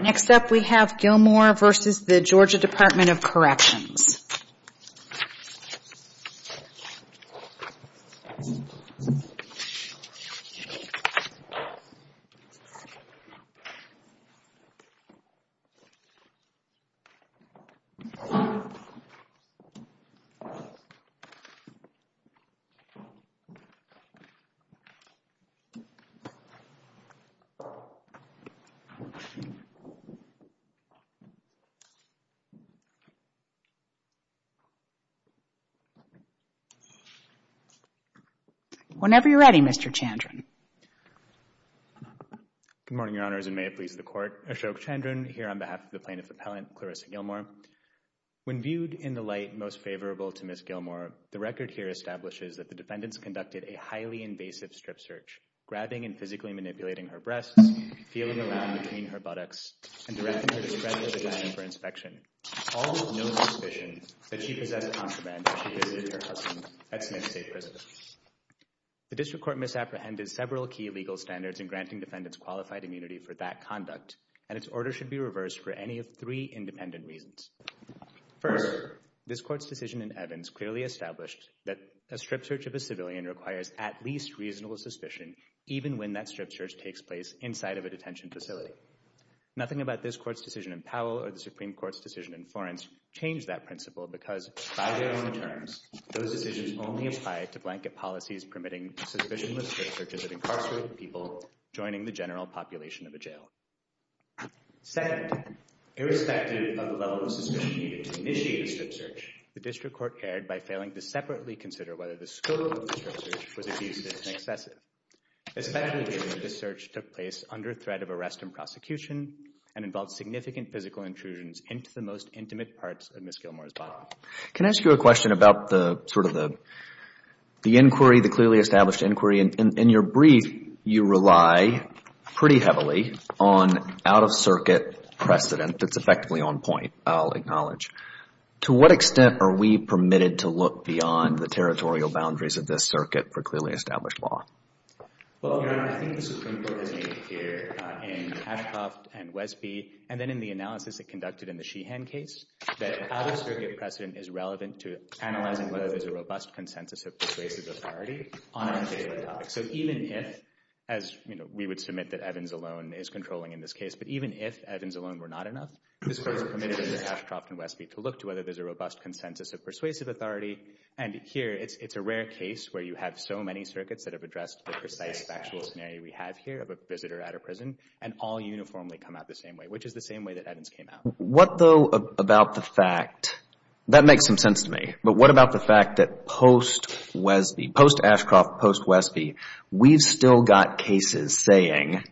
Next up we have Gilmore v. Georgia Department of Corrections. Whenever you're ready, Mr. Chandron. Good morning, Your Honors, and may it please the Court. Ashok Chandron here on behalf of the Plaintiff Appellant, Clarissa Gilmore. When viewed in the light most favorable to Ms. Gilmore, the record here establishes that the defendants conducted a highly invasive strip search, grabbing and physically manipulating her breasts, feeling around between her buttocks, and directing her to spread her vagina for inspection, all with no suspicion that she possessed contraband when she visited her husband at Smith State Prison. The District Court misapprehended several key legal standards in granting defendants qualified immunity for that conduct, and its order should be reversed for any of three independent reasons. First, this Court's decision in Evans clearly established that a strip search of a civilian requires at least reasonable suspicion even when that strip search takes place inside of a detention facility. Nothing about this Court's decision in Powell or the Supreme Court's decision in Florence changed that principle because, by their own terms, those decisions only apply to blanket policies permitting suspicionless strip searches of incarcerated people joining the general population of a jail. Second, irrespective of the level of suspicion needed to initiate a strip search, the District Court erred by failing to separately consider whether the scope of the strip search was abusive and excessive. Especially given that the search took place under threat of arrest and prosecution and involved significant physical intrusions into the most intimate parts of Ms. Gilmour's body. Can I ask you a question about the sort of the inquiry, the clearly established inquiry? In your brief, you rely pretty heavily on out-of-circuit precedent that's effectively on point, I'll acknowledge. To what extent are we permitted to look beyond the territorial boundaries of this Circuit for clearly established law? Well, Your Honor, I think the Supreme Court has made clear in Ashcroft and Wesby and then in the analysis it conducted in the Sheehan case that out-of-circuit precedent is relevant to analyzing whether there's a robust consensus of persuasive authority on a particular topic. So even if, as we would submit that Evans alone is controlling in this case, but even if Evans alone were not enough, Ms. Gilmour was permitted in Ashcroft and Wesby to look to whether there's a robust consensus of persuasive authority. And here it's a rare case where you have so many circuits that have addressed the precise factual scenario we have here of a visitor at a prison and all uniformly come out the same way, which is the same way that Evans came out. What though about the fact, that makes some sense to me, but what about the fact that post-Ashcroft, post-Wesby, we've still got cases saying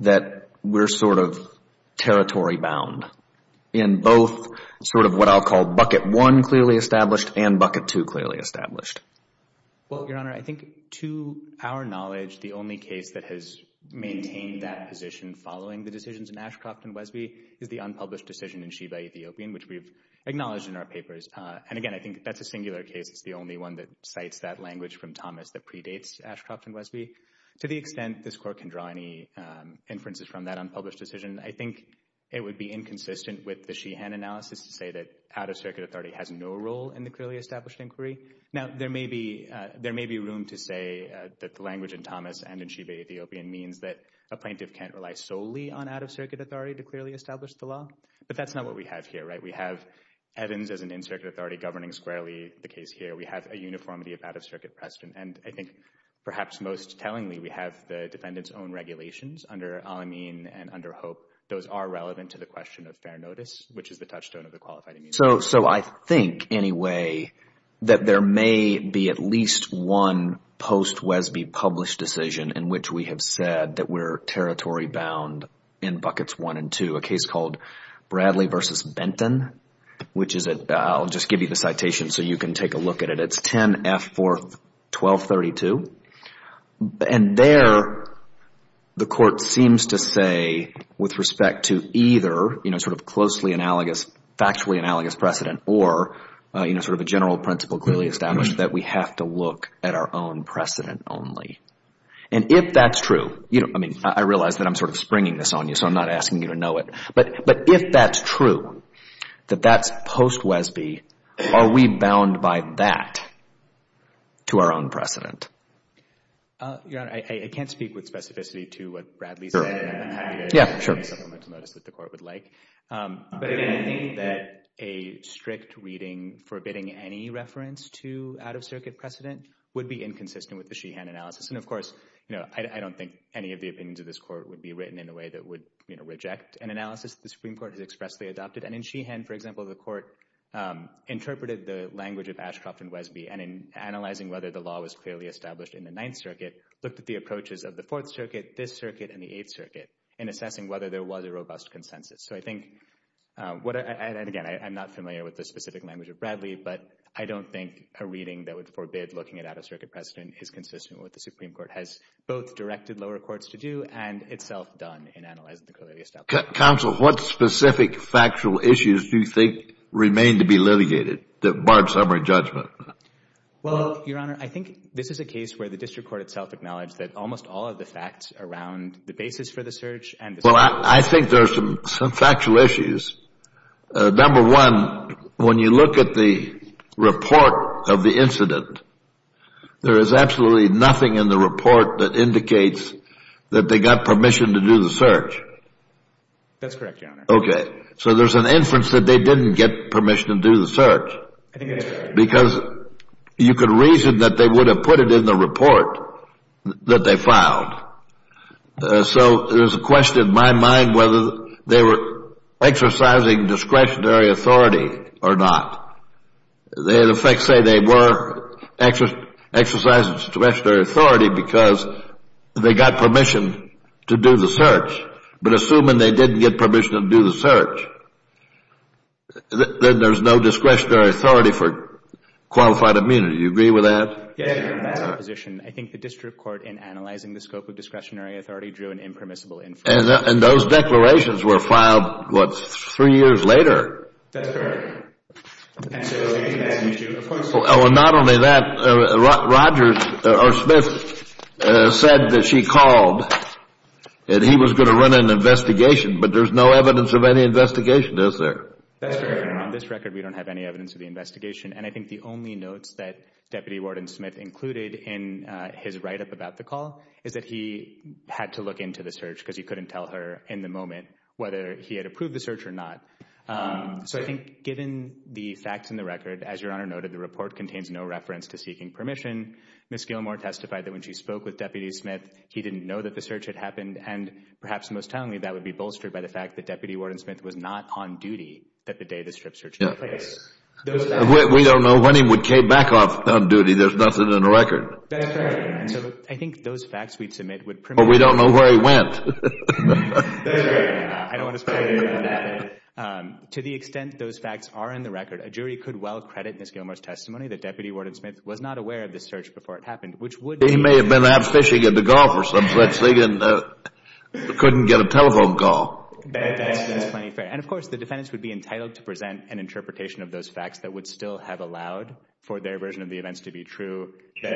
that we're sort of territory-bound in both sort of what I'll call bucket one clearly established and bucket two clearly established? Well, Your Honor, I think to our knowledge, the only case that has maintained that position following the decisions in Ashcroft and Wesby is the unpublished decision in Sheeha Ethiopian, which we've acknowledged in our papers. And again, I think that's a singular case. It's the only one that cites that language from Thomas that predates Ashcroft and Wesby. To the extent this Court can draw any inferences from that unpublished decision, I think it would be inconsistent with the Sheehan analysis to say that out-of-circuit authority has no role in the clearly established inquiry. Now, there may be room to say that the language in Thomas and in Sheeha Ethiopian means that a plaintiff can't rely solely on out-of-circuit authority to clearly establish the law, but that's not what we have here, right? We have Evans as an in-circuit authority governing squarely the case here. We have a uniformity of out-of-circuit precedent. And I think perhaps most tellingly, we have the defendant's own regulations under Al-Amin and under Hope. Those are relevant to the question of fair notice, which is the touchstone of the qualified immunity. So I think anyway that there may be at least one post-Wesby published decision in which we have said that we're territory-bound in buckets one and two, a case called Bradley v. Benton, which is a – I'll just give you the citation so you can take a look at it. It's 10-F-4-1232. And there the court seems to say with respect to either sort of closely analogous, factually analogous precedent or sort of a general principle clearly established that we have to look at our own precedent only. And if that's true – I mean, I realize that I'm sort of springing this on you, so I'm not asking you to know it. But if that's true, that that's post-Wesby, are we bound by that to our own precedent? Your Honor, I can't speak with specificity to what Bradley said. And I'm happy to make a supplemental notice that the court would like. But, again, I think that a strict reading forbidding any reference to out-of-circuit precedent would be inconsistent with the Sheehan analysis. And, of course, I don't think any of the opinions of this court would be written in a way that would reject an analysis the Supreme Court has expressly adopted. And in Sheehan, for example, the court interpreted the language of Ashcroft and Wesby, and in analyzing whether the law was clearly established in the Ninth Circuit, looked at the approaches of the Fourth Circuit, this circuit, and the Eighth Circuit in assessing whether there was a robust consensus. So I think – and, again, I'm not familiar with the specific language of Bradley, but I don't think a reading that would forbid looking at out-of-circuit precedent is consistent with what the Supreme Court has both directed lower courts to do. And it's self-done in analyzing the clarity of establishments. Counsel, what specific factual issues do you think remain to be litigated that barred summary judgment? Well, Your Honor, I think this is a case where the district court itself acknowledged that almost all of the facts around the basis for the search and the search. Well, I think there are some factual issues. Number one, when you look at the report of the incident, there is absolutely nothing in the report that indicates that they got permission to do the search. That's correct, Your Honor. Okay. So there's an inference that they didn't get permission to do the search. I think that's right. Because you could reason that they would have put it in the report that they filed. So there's a question in my mind whether they were exercising discretionary authority or not. The facts say they were exercising discretionary authority because they got permission to do the search. But assuming they didn't get permission to do the search, then there's no discretionary authority for qualified immunity. Do you agree with that? Yes, Your Honor. In that position, I think the district court, in analyzing the scope of discretionary authority, drew an impermissible inference. And those declarations were filed, what, three years later? That's correct. And so that's an issue. Well, not only that, Rogers or Smith said that she called that he was going to run an investigation. But there's no evidence of any investigation, is there? That's correct, Your Honor. On this record, we don't have any evidence of the investigation. And I think the only notes that Deputy Warden Smith included in his write-up about the call is that he had to look into the search because he couldn't tell her in the moment whether he had approved the search or not. So I think given the facts in the record, as Your Honor noted, the report contains no reference to seeking permission. Ms. Gilmour testified that when she spoke with Deputy Smith, he didn't know that the search had happened. And perhaps most tellingly, that would be bolstered by the fact that Deputy Warden Smith was not on duty that the day the strip search took place. We don't know when he came back on duty. There's nothing in the record. That's correct. And so I think those facts we'd submit would premit— But we don't know where he went. To the extent those facts are in the record, a jury could well credit Ms. Gilmour's testimony that Deputy Warden Smith was not aware of the search before it happened, which would— He may have been out fishing at the gulf or something, but couldn't get a telephone call. That's plenty fair. And, of course, the defendants would be entitled to present an interpretation of those facts that would still have allowed for their version of the events to be true, that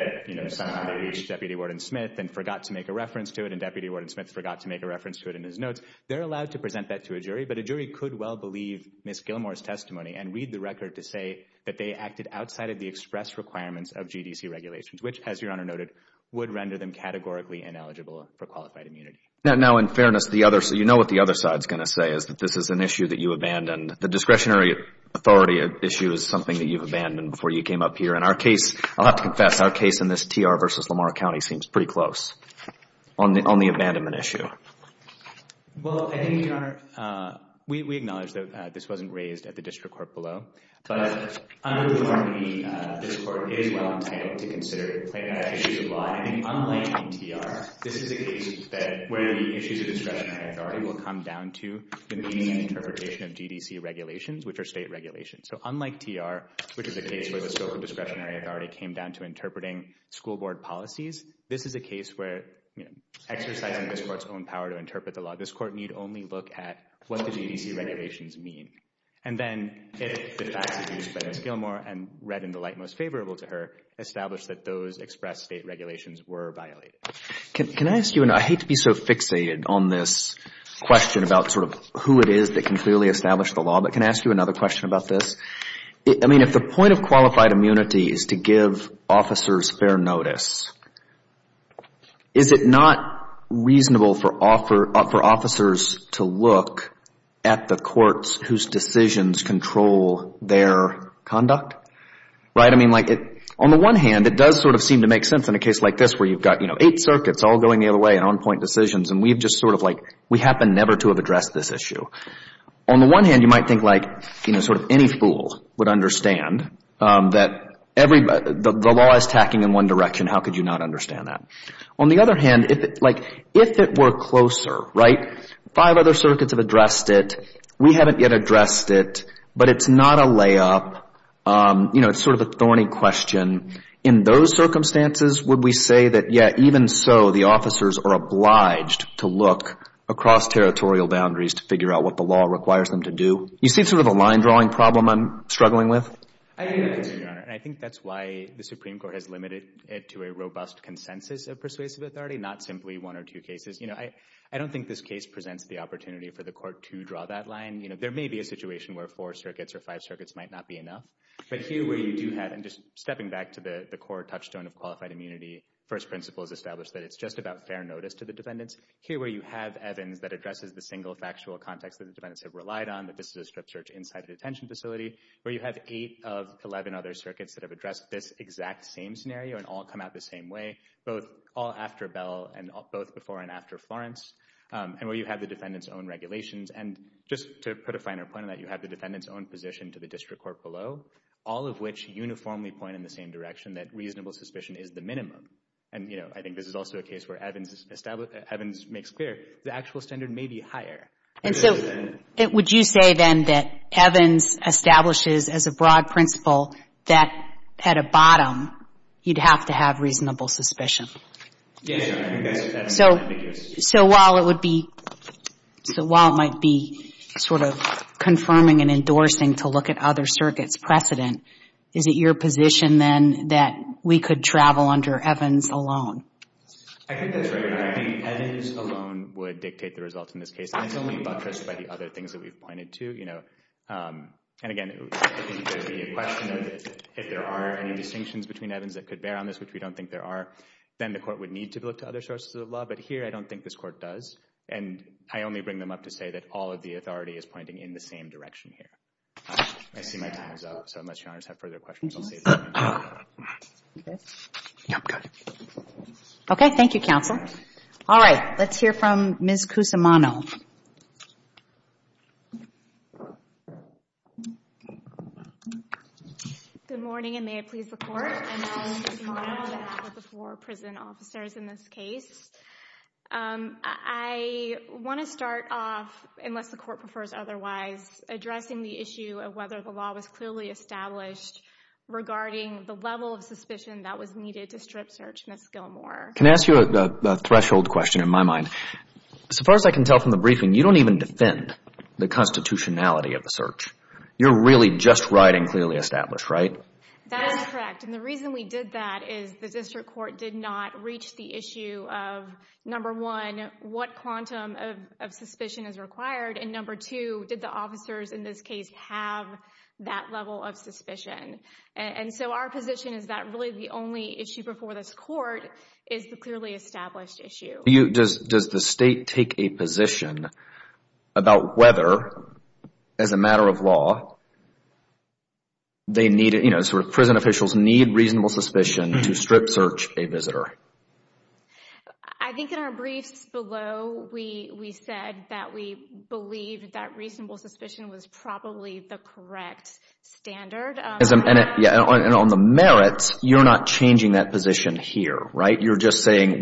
somehow they reached Deputy Warden Smith and forgot to make a reference to it in his notes. They're allowed to present that to a jury, but a jury could well believe Ms. Gilmour's testimony and read the record to say that they acted outside of the express requirements of GDC regulations, which, as Your Honor noted, would render them categorically ineligible for qualified immunity. Now, in fairness, you know what the other side's going to say, is that this is an issue that you abandoned. The discretionary authority issue is something that you've abandoned before you came up here. And our case—I'll have to confess, our case in this TR v. Lamar County seems pretty close. On the abandonment issue. Well, I think, Your Honor, we acknowledge that this wasn't raised at the district court below, but under the Department of the District Court, it is well entitled to consider plaintiff issues of law. I think unlike in TR, this is a case where the issues of discretionary authority will come down to the meaning and interpretation of GDC regulations, which are state regulations. So unlike TR, which is a case where the scope of discretionary authority came down to interpreting school board policies, this is a case where, you know, exercising this court's own power to interpret the law, this court need only look at what the GDC regulations mean. And then, if the facts are used by Ms. Gilmore and read in the light most favorable to her, establish that those express state regulations were violated. Can I ask you, and I hate to be so fixated on this question about sort of who it is that can clearly establish the law, but can I ask you another question about this? I mean, if the point of qualified immunity is to give officers fair notice, is it not reasonable for officers to look at the courts whose decisions control their conduct? Right? I mean, like, on the one hand, it does sort of seem to make sense in a case like this, where you've got, you know, eight circuits all going the other way and on-point decisions, and we've just sort of like, we happen never to have addressed this issue. On the one hand, you might think like, you know, sort of any fool would understand that the law is tacking in one direction. How could you not understand that? On the other hand, like, if it were closer, right, five other circuits have addressed it. We haven't yet addressed it, but it's not a layup. You know, it's sort of a thorny question. In those circumstances, would we say that, yeah, even so, the officers are obliged to look across territorial boundaries to figure out what the law requires them to do? You see sort of a line-drawing problem I'm struggling with? I do, Your Honor, and I think that's why the Supreme Court has limited it to a robust consensus of persuasive authority, not simply one or two cases. You know, I don't think this case presents the opportunity for the court to draw that line. You know, there may be a situation where four circuits or five circuits might not be enough, but here where you do have, and just stepping back to the core touchstone of qualified immunity, the first principle is established that it's just about fair notice to the defendants. Here where you have Evans that addresses the single factual context that the defendants have relied on, that this is a strip search inside a detention facility, where you have eight of 11 other circuits that have addressed this exact same scenario and all come out the same way, both all after Bell and both before and after Florence, and where you have the defendants' own regulations. And just to put a finer point on that, you have the defendants' own position to the district court below, all of which uniformly point in the same direction that reasonable suspicion is the minimum. And, you know, I think this is also a case where Evans establishes — Evans makes clear the actual standard may be higher. And so would you say, then, that Evans establishes as a broad principle that at a bottom you'd have to have reasonable suspicion? Yes, Your Honor. I think that's the case. So while it would be — so while it might be sort of confirming and endorsing to look at other circuits' precedent, is it your position, then, that we could travel under Evans alone? I think that's right, Your Honor. I think Evans alone would dictate the results in this case. And it's only buttressed by the other things that we've pointed to, you know. And, again, it would be a question of if there are any distinctions between Evans that could bear on this, which we don't think there are, then the court would need to look to other sources of law. But here I don't think this court does. And I only bring them up to say that all of the authority is pointing in the same direction here. I see my time is up. So unless Your Honors have further questions, I'll save them. Okay. Thank you, counsel. All right. Let's hear from Ms. Cusimano. Good morning, and may it please the Court. My name is Cusimano. I'm one of the four prison officers in this case. I want to start off, unless the Court prefers otherwise, addressing the issue of whether the law was clearly established regarding the level of suspicion that was needed to strip Search and the Skillmore. Can I ask you a threshold question in my mind? So far as I can tell from the briefing, you don't even defend the constitutionality of the search. You're really just writing clearly established, right? That is correct. And the reason we did that is the district court did not reach the issue of number one, what quantum of suspicion is required, and number two, did the officers in this case have that level of suspicion? And so our position is that really the only issue before this court is the clearly established issue. Does the State take a position about whether, as a matter of law, prison officials need reasonable suspicion to strip Search a visitor? I think in our briefs below, we said that we believed that reasonable suspicion was probably the correct standard. And on the merits, you're not changing that position here, right? You're just saying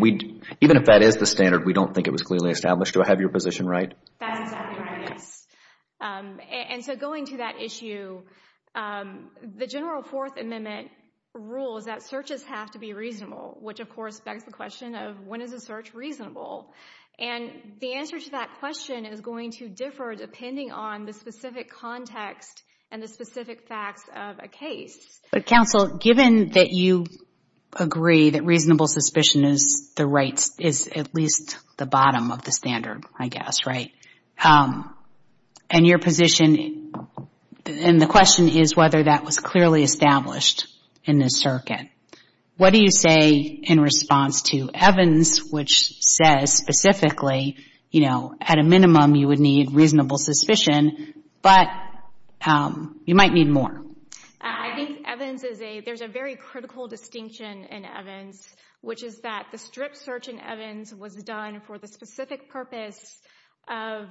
even if that is the standard, we don't think it was clearly established. Do I have your position right? That's exactly right, yes. And so going to that issue, the general Fourth Amendment rules that searches have to be reasonable, which, of course, begs the question of when is a search reasonable? And the answer to that question is going to differ depending on the specific context and the specific facts of a case. But, counsel, given that you agree that reasonable suspicion is the right, I guess, right? And your position and the question is whether that was clearly established in this circuit. What do you say in response to Evans, which says specifically, you know, at a minimum you would need reasonable suspicion, but you might need more? I think Evans is a, there's a very critical distinction in Evans, which is that the strip search in Evans was done for the specific purpose of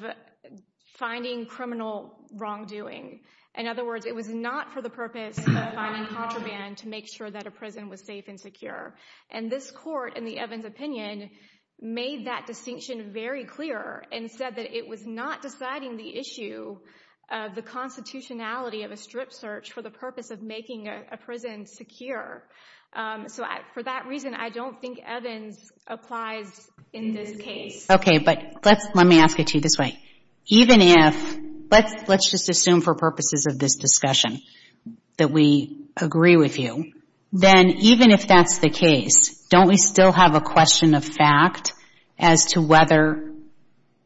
finding criminal wrongdoing. In other words, it was not for the purpose of finding contraband to make sure that a prison was safe and secure. And this court, in the Evans opinion, made that distinction very clear and said that it was not deciding the issue of the constitutionality of a strip search for the purpose of making a prison secure. So for that reason, I don't think Evans applies in this case. Okay, but let me ask it to you this way. Even if, let's just assume for purposes of this discussion that we agree with you, then even if that's the case, don't we still have a question of fact as to whether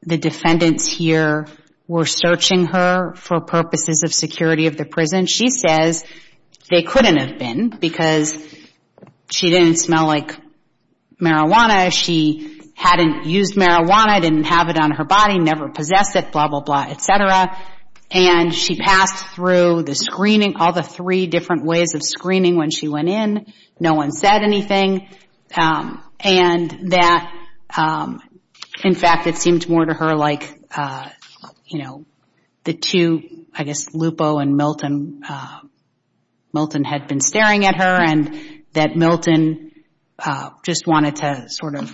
the defendants here were searching her for purposes of security of the prison? And she says they couldn't have been because she didn't smell like marijuana, she hadn't used marijuana, didn't have it on her body, never possessed it, blah, blah, blah, et cetera, and she passed through the screening, all the three different ways of screening when she went in. No one said anything. And that, in fact, it seemed more to her like, you know, the two, I guess, Bobo and Milton, Milton had been staring at her and that Milton just wanted to sort of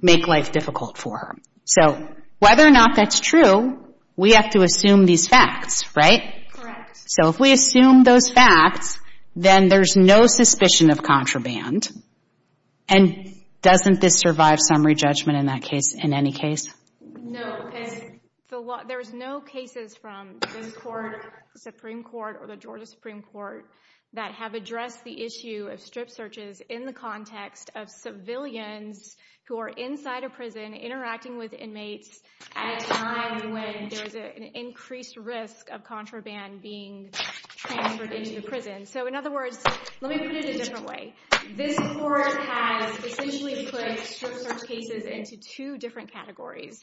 make life difficult for her. So whether or not that's true, we have to assume these facts, right? Correct. So if we assume those facts, then there's no suspicion of contraband. And doesn't this survive summary judgment in that case, in any case? No, because there's no cases from this court, Supreme Court, or the Georgia Supreme Court that have addressed the issue of strip searches in the context of civilians who are inside a prison interacting with inmates at a time when there's an increased risk of contraband being transferred into the prison. So in other words, let me put it a different way. This court has essentially put strip search cases into two different categories.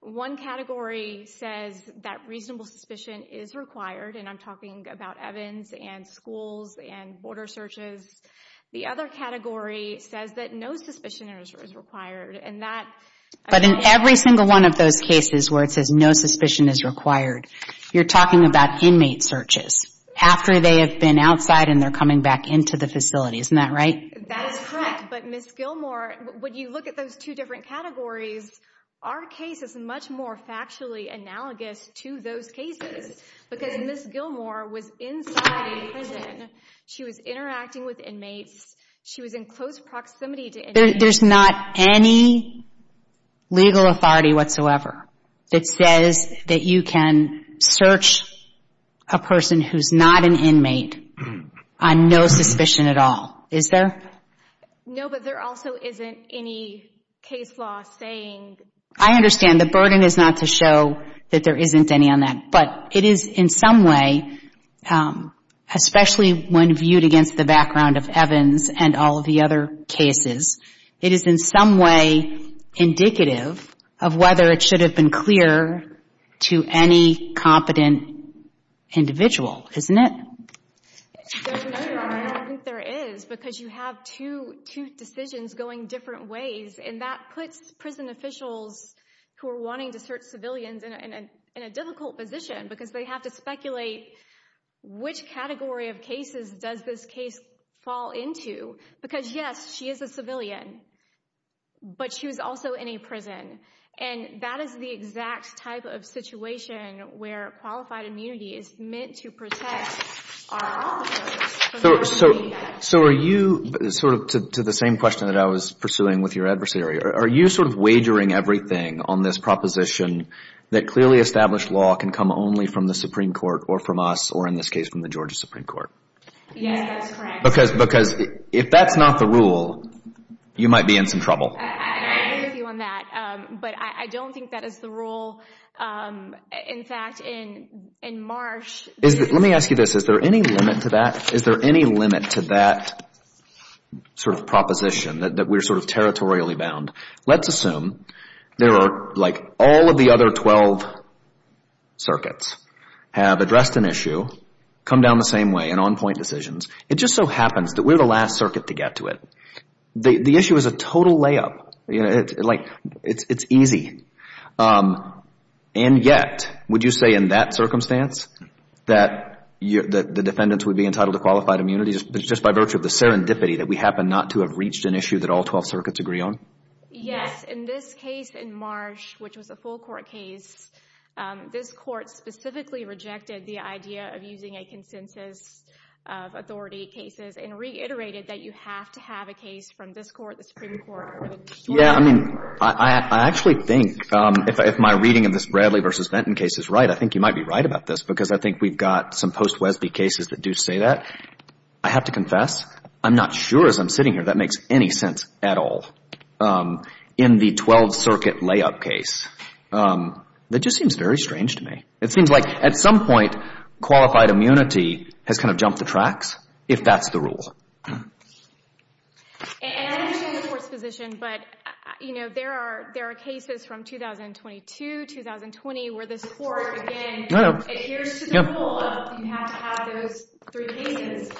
One category says that reasonable suspicion is required, and I'm talking about Evans and schools and border searches. The other category says that no suspicion is required. But in every single one of those cases where it says no suspicion is required, you're talking about inmate searches after they have been outside and they're coming back into the facility. Isn't that right? That is correct. But, Ms. Gilmour, when you look at those two different categories, our case is much more factually analogous to those cases because Ms. Gilmour was inside a prison. She was interacting with inmates. She was in close proximity to inmates. There's not any legal authority whatsoever that says that you can search a person who's not an inmate on no suspicion at all. Is there? No, but there also isn't any case law saying. I understand. The burden is not to show that there isn't any on that, but it is in some way, especially when viewed against the background of Evans and all of the other cases, it is in some way indicative of whether it should have been clear to any competent individual, isn't it? I don't think there is because you have two decisions going different ways, and that puts prison officials who are wanting to search civilians in a difficult position because they have to speculate which category of cases does this case fall into. Because, yes, she is a civilian, but she was also in a prison, and that is the exact type of situation where qualified immunity is meant to protect our officers from that behavior. So are you, sort of to the same question that I was pursuing with your adversary, are you sort of wagering everything on this proposition that clearly established law can come only from the Supreme Court or from us or, in this case, from the Georgia Supreme Court? Yes, that is correct. Because if that's not the rule, you might be in some trouble. I agree with you on that, but I don't think that is the rule. In fact, in March... Let me ask you this. Is there any limit to that sort of proposition that we're sort of territorially bound? Let's assume there are like all of the other 12 circuits have addressed an issue, come down the same way in on-point decisions. It just so happens that we're the last circuit to get to it. The issue is a total layup. It's easy. And yet, would you say in that circumstance that the defendants would be entitled to qualified immunity just by virtue of the serendipity that we happen not to have reached an issue that all 12 circuits agree on? Yes. In this case in March, which was a full court case, this court specifically rejected the idea of using a consensus of authority cases and reiterated that you have to have a case from this court, the Supreme Court... Yeah, I mean, I actually think if my reading of this Bradley v. Benton case is right, I think you might be right about this because I think we've got some post-Wesby cases that do say that. I have to confess, I'm not sure as I'm sitting here that makes any sense at all in the 12-circuit layup case. That just seems very strange to me. It seems like at some point, qualified immunity has kind of jumped the tracks, if that's the rule. And I understand the court's position, but there are cases from 2022, 2020, where this court, again, adheres to the rule of you have to have those three cases.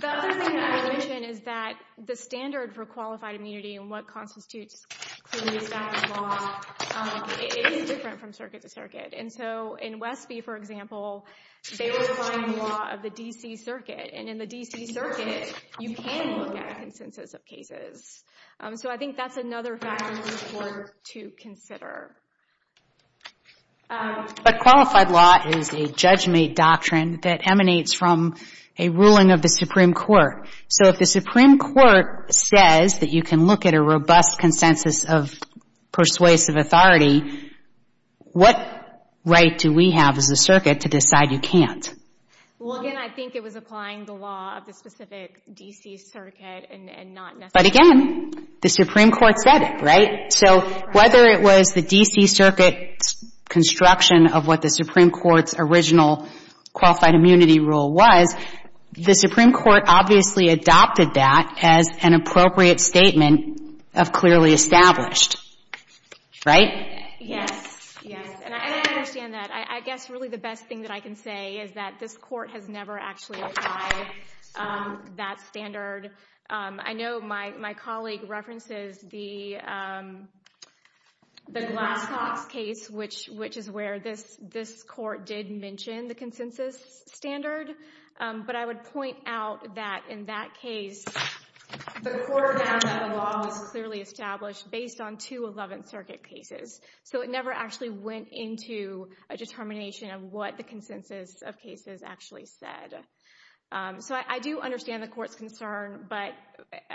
The other thing that I would mention is that the standard for qualified immunity and what constitutes community status law is different from circuit to circuit. And so in Wesby, for example, they were applying the law of the D.C. Circuit. And in the D.C. Circuit, you can look at a consensus of cases. So I think that's another factor for the court to consider. But qualified law is a judgment doctrine that emanates from a ruling of the Supreme Court. So if the Supreme Court says that you can look at a robust consensus of persuasive authority, what right do we have as a circuit to decide you can't? Well, again, I think it was applying the law of the specific D.C. Circuit and not necessarily. But again, the Supreme Court said it, right? So whether it was the D.C. Circuit's construction of what the Supreme Court's original qualified immunity rule was, the Supreme Court obviously adopted that as an appropriate statement of clearly established, right? Yes, yes. And I understand that. I guess really the best thing that I can say is that this court has never actually applied that standard. I know my colleague references the Glass-Cox case, which is where this court did mention the consensus standard. But I would point out that in that case, the court found that the law was clearly established based on two Eleventh Circuit cases. So it never actually went into a determination of what the consensus of cases actually said. So I do understand the court's concern. But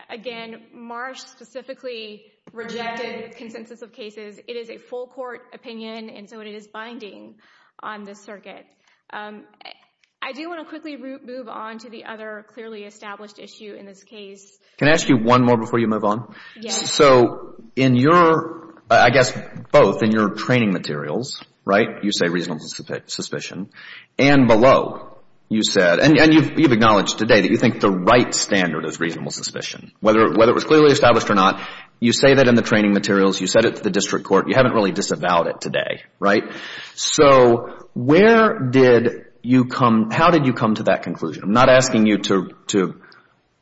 again, Marsh specifically rejected consensus of cases. It is a full court opinion, and so it is binding on this circuit. I do want to quickly move on to the other clearly established issue in this case. Can I ask you one more before you move on? Yes. So in your, I guess both in your training materials, right, you say reasonable suspicion. And below, you said, and you've acknowledged today that you think the right standard is reasonable suspicion, whether it was clearly established or not. You say that in the training materials. You said it to the district court. You haven't really disavowed it today, right? So where did you come, how did you come to that conclusion? I'm not asking you to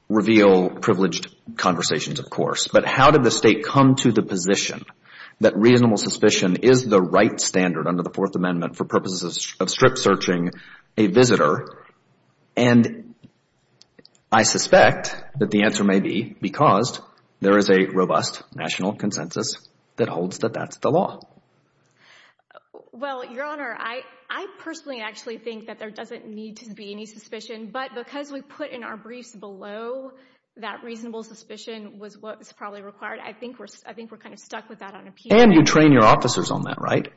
reveal privileged conversations, of course. But how did the State come to the position that reasonable suspicion is the right standard under the Fourth Amendment And I suspect that the answer may be because there is a robust national consensus that holds that that's the law. Well, Your Honor, I personally actually think that there doesn't need to be any suspicion. But because we put in our briefs below that reasonable suspicion was what was probably required, I think we're kind of stuck with that on a piece of paper. And you train your officers on that, right?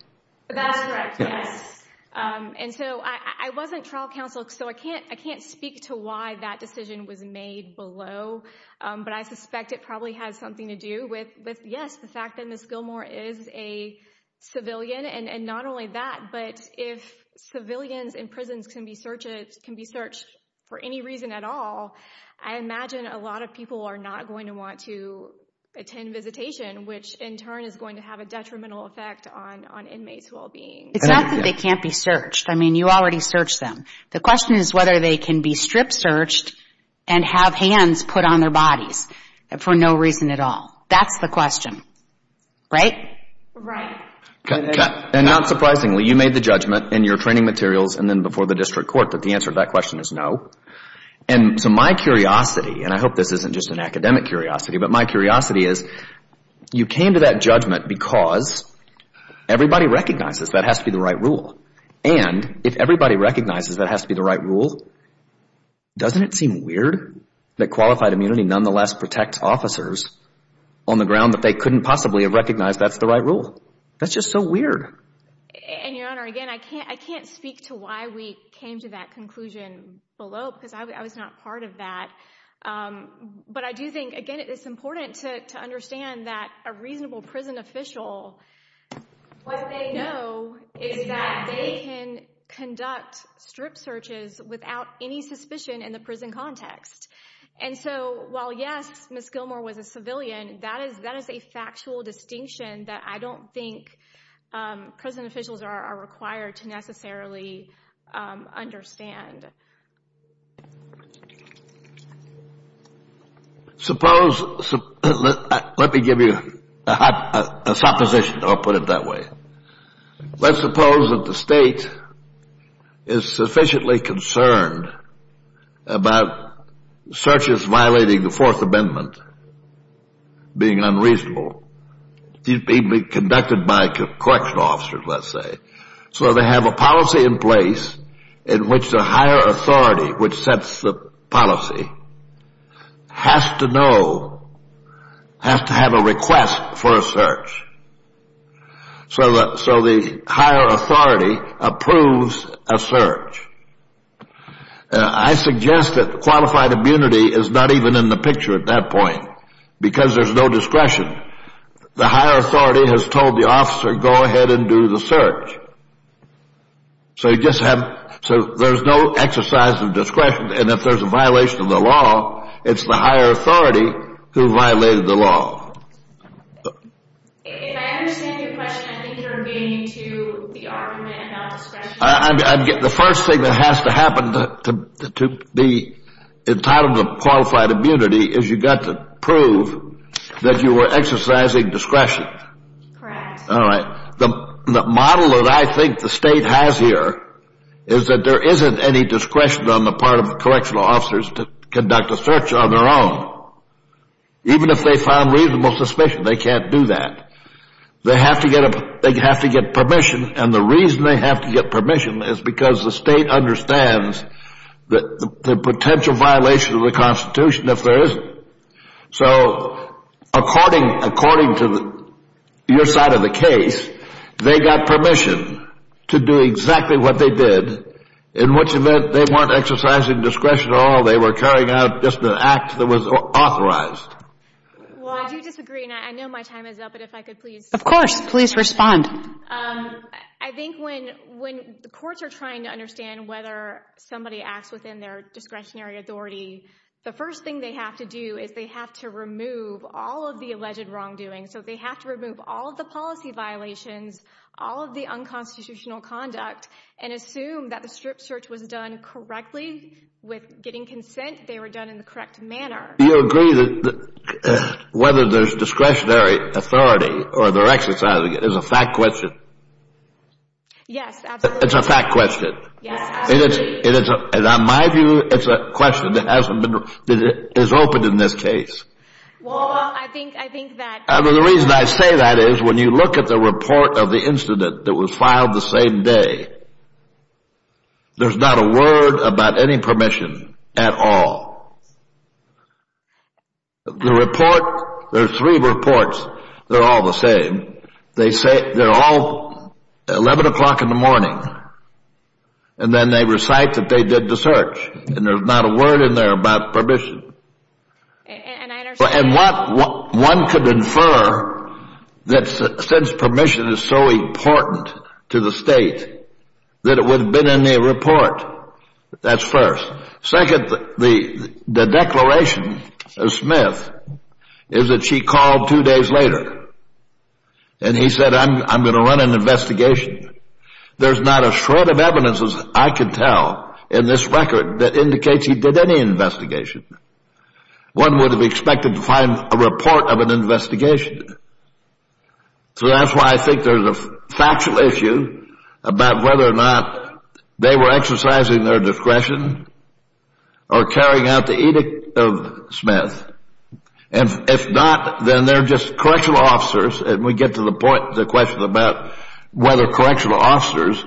That's correct, yes. And so I wasn't trial counsel, so I can't speak to why that decision was made below. But I suspect it probably has something to do with, yes, the fact that Ms. Gilmore is a civilian. And not only that, but if civilians in prisons can be searched for any reason at all, I imagine a lot of people are not going to want to attend visitation, which in turn is going to have a detrimental effect on inmates' well-being. It's not that they can't be searched. I mean, you already searched them. The question is whether they can be strip-searched and have hands put on their bodies for no reason at all. That's the question, right? Right. And not surprisingly, you made the judgment in your training materials and then before the district court that the answer to that question is no. And so my curiosity, and I hope this isn't just an academic curiosity, but my curiosity is you came to that judgment because everybody recognizes that has to be the right rule. And if everybody recognizes that has to be the right rule, doesn't it seem weird that qualified immunity nonetheless protects officers on the ground that they couldn't possibly have recognized that's the right rule? That's just so weird. And, Your Honor, again, I can't speak to why we came to that conclusion below because I was not part of that. But I do think, again, it's important to understand that a reasonable prison official, what they know is that they can conduct strip searches without any suspicion in the prison context. And so while, yes, Ms. Gilmour was a civilian, that is a factual distinction that I don't think prison officials are required to necessarily understand. Suppose, let me give you a supposition. I'll put it that way. Let's suppose that the state is sufficiently concerned about searches violating the Fourth Amendment being unreasonable. These being conducted by correctional officers, let's say. So they have a policy in place in which the higher authority which sets the policy has to know, has to have a request for a search. So the higher authority approves a search. I suggest that qualified immunity is not even in the picture at that point because there's no discretion. The higher authority has told the officer, go ahead and do the search. So you just have, so there's no exercise of discretion. And if there's a violation of the law, it's the higher authority who violated the law. If I understand your question, I think you're obeying to the argument about discretion. The first thing that has to happen to be entitled to qualified immunity is you've got to prove that you were exercising discretion. Correct. All right. The model that I think the state has here is that there isn't any discretion on the part of the correctional officers to conduct a search on their own. Even if they found reasonable suspicion, they can't do that. They have to get permission. And the reason they have to get permission is because the state understands the potential violation of the Constitution if there isn't. So according to your side of the case, they got permission to do exactly what they did, in which event they weren't exercising discretion at all, they were carrying out just an act that was authorized. Well, I do disagree. And I know my time is up, but if I could please. Of course. Please respond. I think when the courts are trying to understand whether somebody acts within their discretionary authority, the first thing they have to do is they have to remove all of the alleged wrongdoing. So they have to remove all of the policy violations, all of the unconstitutional conduct, and assume that the strip search was done correctly with getting consent. They were done in the correct manner. Do you agree that whether there's discretionary authority or they're exercising it is a fact question? Yes, absolutely. It's a fact question. Yes, absolutely. In my view, it's a question that hasn't been – that is open in this case. Well, I think that – The reason I say that is when you look at the report of the incident that was filed the same day, there's not a word about any permission at all. The report – there are three reports. They're all the same. They say – they're all 11 o'clock in the morning, and then they recite that they did the search, and there's not a word in there about permission. And I understand. that since permission is so important to the state that it would have been in the report. That's first. Second, the declaration of Smith is that she called two days later, and he said, I'm going to run an investigation. There's not a shred of evidence, as I can tell, in this record that indicates he did any investigation. One would have expected to find a report of an investigation. So that's why I think there's a factual issue about whether or not they were exercising their discretion or carrying out the edict of Smith. And if not, then they're just correctional officers, and we get to the point – the question about whether correctional officers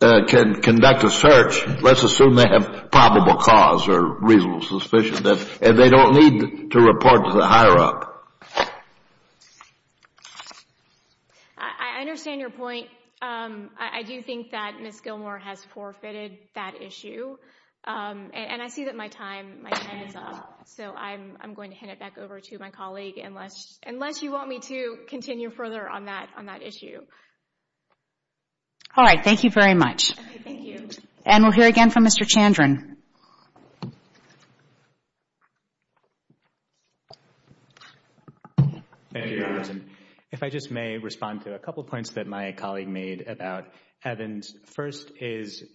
can conduct a search. Let's assume they have probable cause or reasonable suspicion, and they don't need to report to the higher-up. I understand your point. I do think that Ms. Gilmour has forfeited that issue, and I see that my time is up, so I'm going to hand it back over to my colleague, unless you want me to continue further on that issue. All right. Thank you very much. Thank you. And we'll hear again from Mr. Chandran. Thank you, Your Honor. If I just may respond to a couple points that my colleague made about Evans. First is, you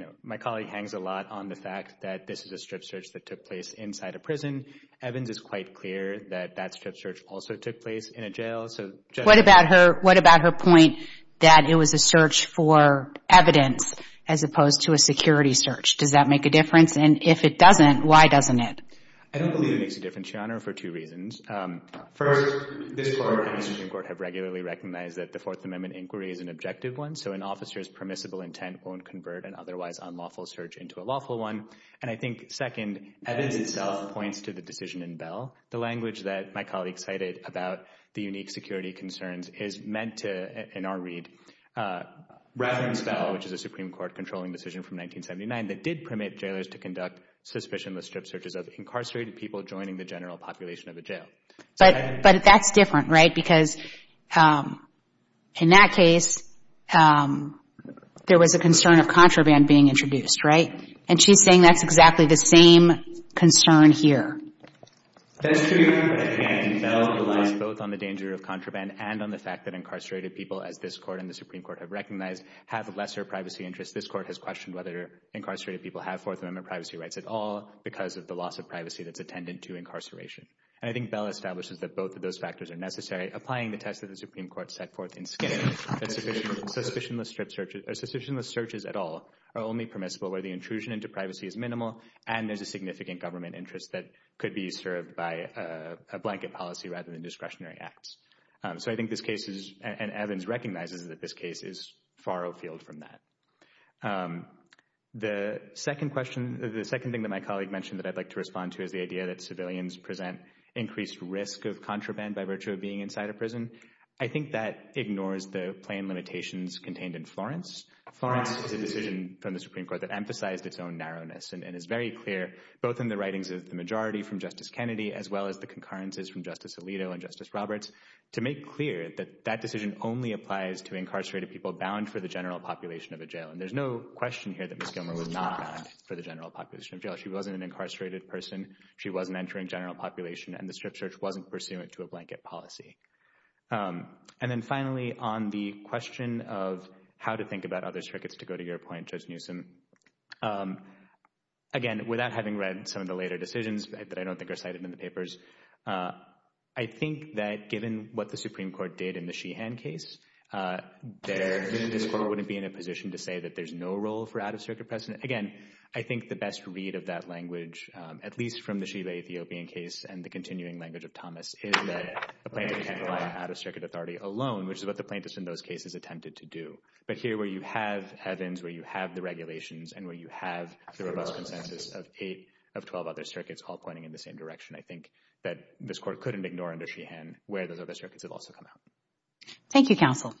know, my colleague hangs a lot on the fact that this is a strip search that took place inside a prison. Evans is quite clear that that strip search also took place in a jail, so just – What about her – what about her point that it was a search for evidence as opposed to a security search? Does that make a difference? And if it doesn't, why doesn't it? I don't believe it makes a difference, Your Honor, for two reasons. First, this Court and the Supreme Court have regularly recognized that the Fourth Amendment inquiry is an objective one, so an officer's permissible intent won't convert an otherwise unlawful search into a lawful one. And I think, second, Evans itself points to the decision in Bell. The language that my colleague cited about the unique security concerns is meant to, in our read, rather than Bell, which is a Supreme Court-controlling decision from 1979 that did permit jailers to conduct suspicionless strip searches of incarcerated people joining the general population of a jail. But that's different, right? Because in that case, there was a concern of contraband being introduced, right? And she's saying that's exactly the same concern here. That's true, but again, Bell relies both on the danger of contraband and on the fact that incarcerated people, as this Court and the Supreme Court have recognized, have lesser privacy interests. This Court has questioned whether incarcerated people have Fourth Amendment privacy rights at all because of the loss of privacy that's attendant to incarceration. And I think Bell establishes that both of those factors are necessary, applying the test that the Supreme Court set forth in Skid Row, that suspicionless strip searches, or suspicionless searches at all, are only permissible where the intrusion into privacy is minimal and there's a significant government interest that could be served by a blanket policy rather than discretionary acts. So I think this case, and Evans recognizes that this case, is far afield from that. The second thing that my colleague mentioned that I'd like to respond to is the idea that civilians present increased risk of contraband by virtue of being inside a prison. I think that ignores the plain limitations contained in Florence. Florence is a decision from the Supreme Court that emphasized its own narrowness and is very clear, both in the writings of the majority from Justice Kennedy as well as the concurrences from Justice Alito and Justice Roberts, to make clear that that decision only applies to incarcerated people bound for the general population of a jail. And there's no question here that Ms. Gilmer was not bound for the general population of a jail. She wasn't an incarcerated person, she wasn't entering general population, and the strip search wasn't pursuant to a blanket policy. And then finally, on the question of how to think about other circuits, to go to your point, Judge Newsom, again, without having read some of the later decisions that I don't think are cited in the papers, I think that given what the Supreme Court did in the Sheehan case, the Supreme Court wouldn't be in a position to say that there's no role for out-of-circuit precedent. Again, I think the best read of that language, at least from the Sheeha Ethiopian case and the continuing language of Thomas, is that a plaintiff can't rely on out-of-circuit authority alone, which is what the plaintiffs in those cases attempted to do. But here, where you have Evans, where you have the regulations, and where you have the robust consensus of eight of 12 other circuits all pointing in the same direction, I think that this Court couldn't ignore under Sheehan where those other circuits have also come out. Thank you, counsel.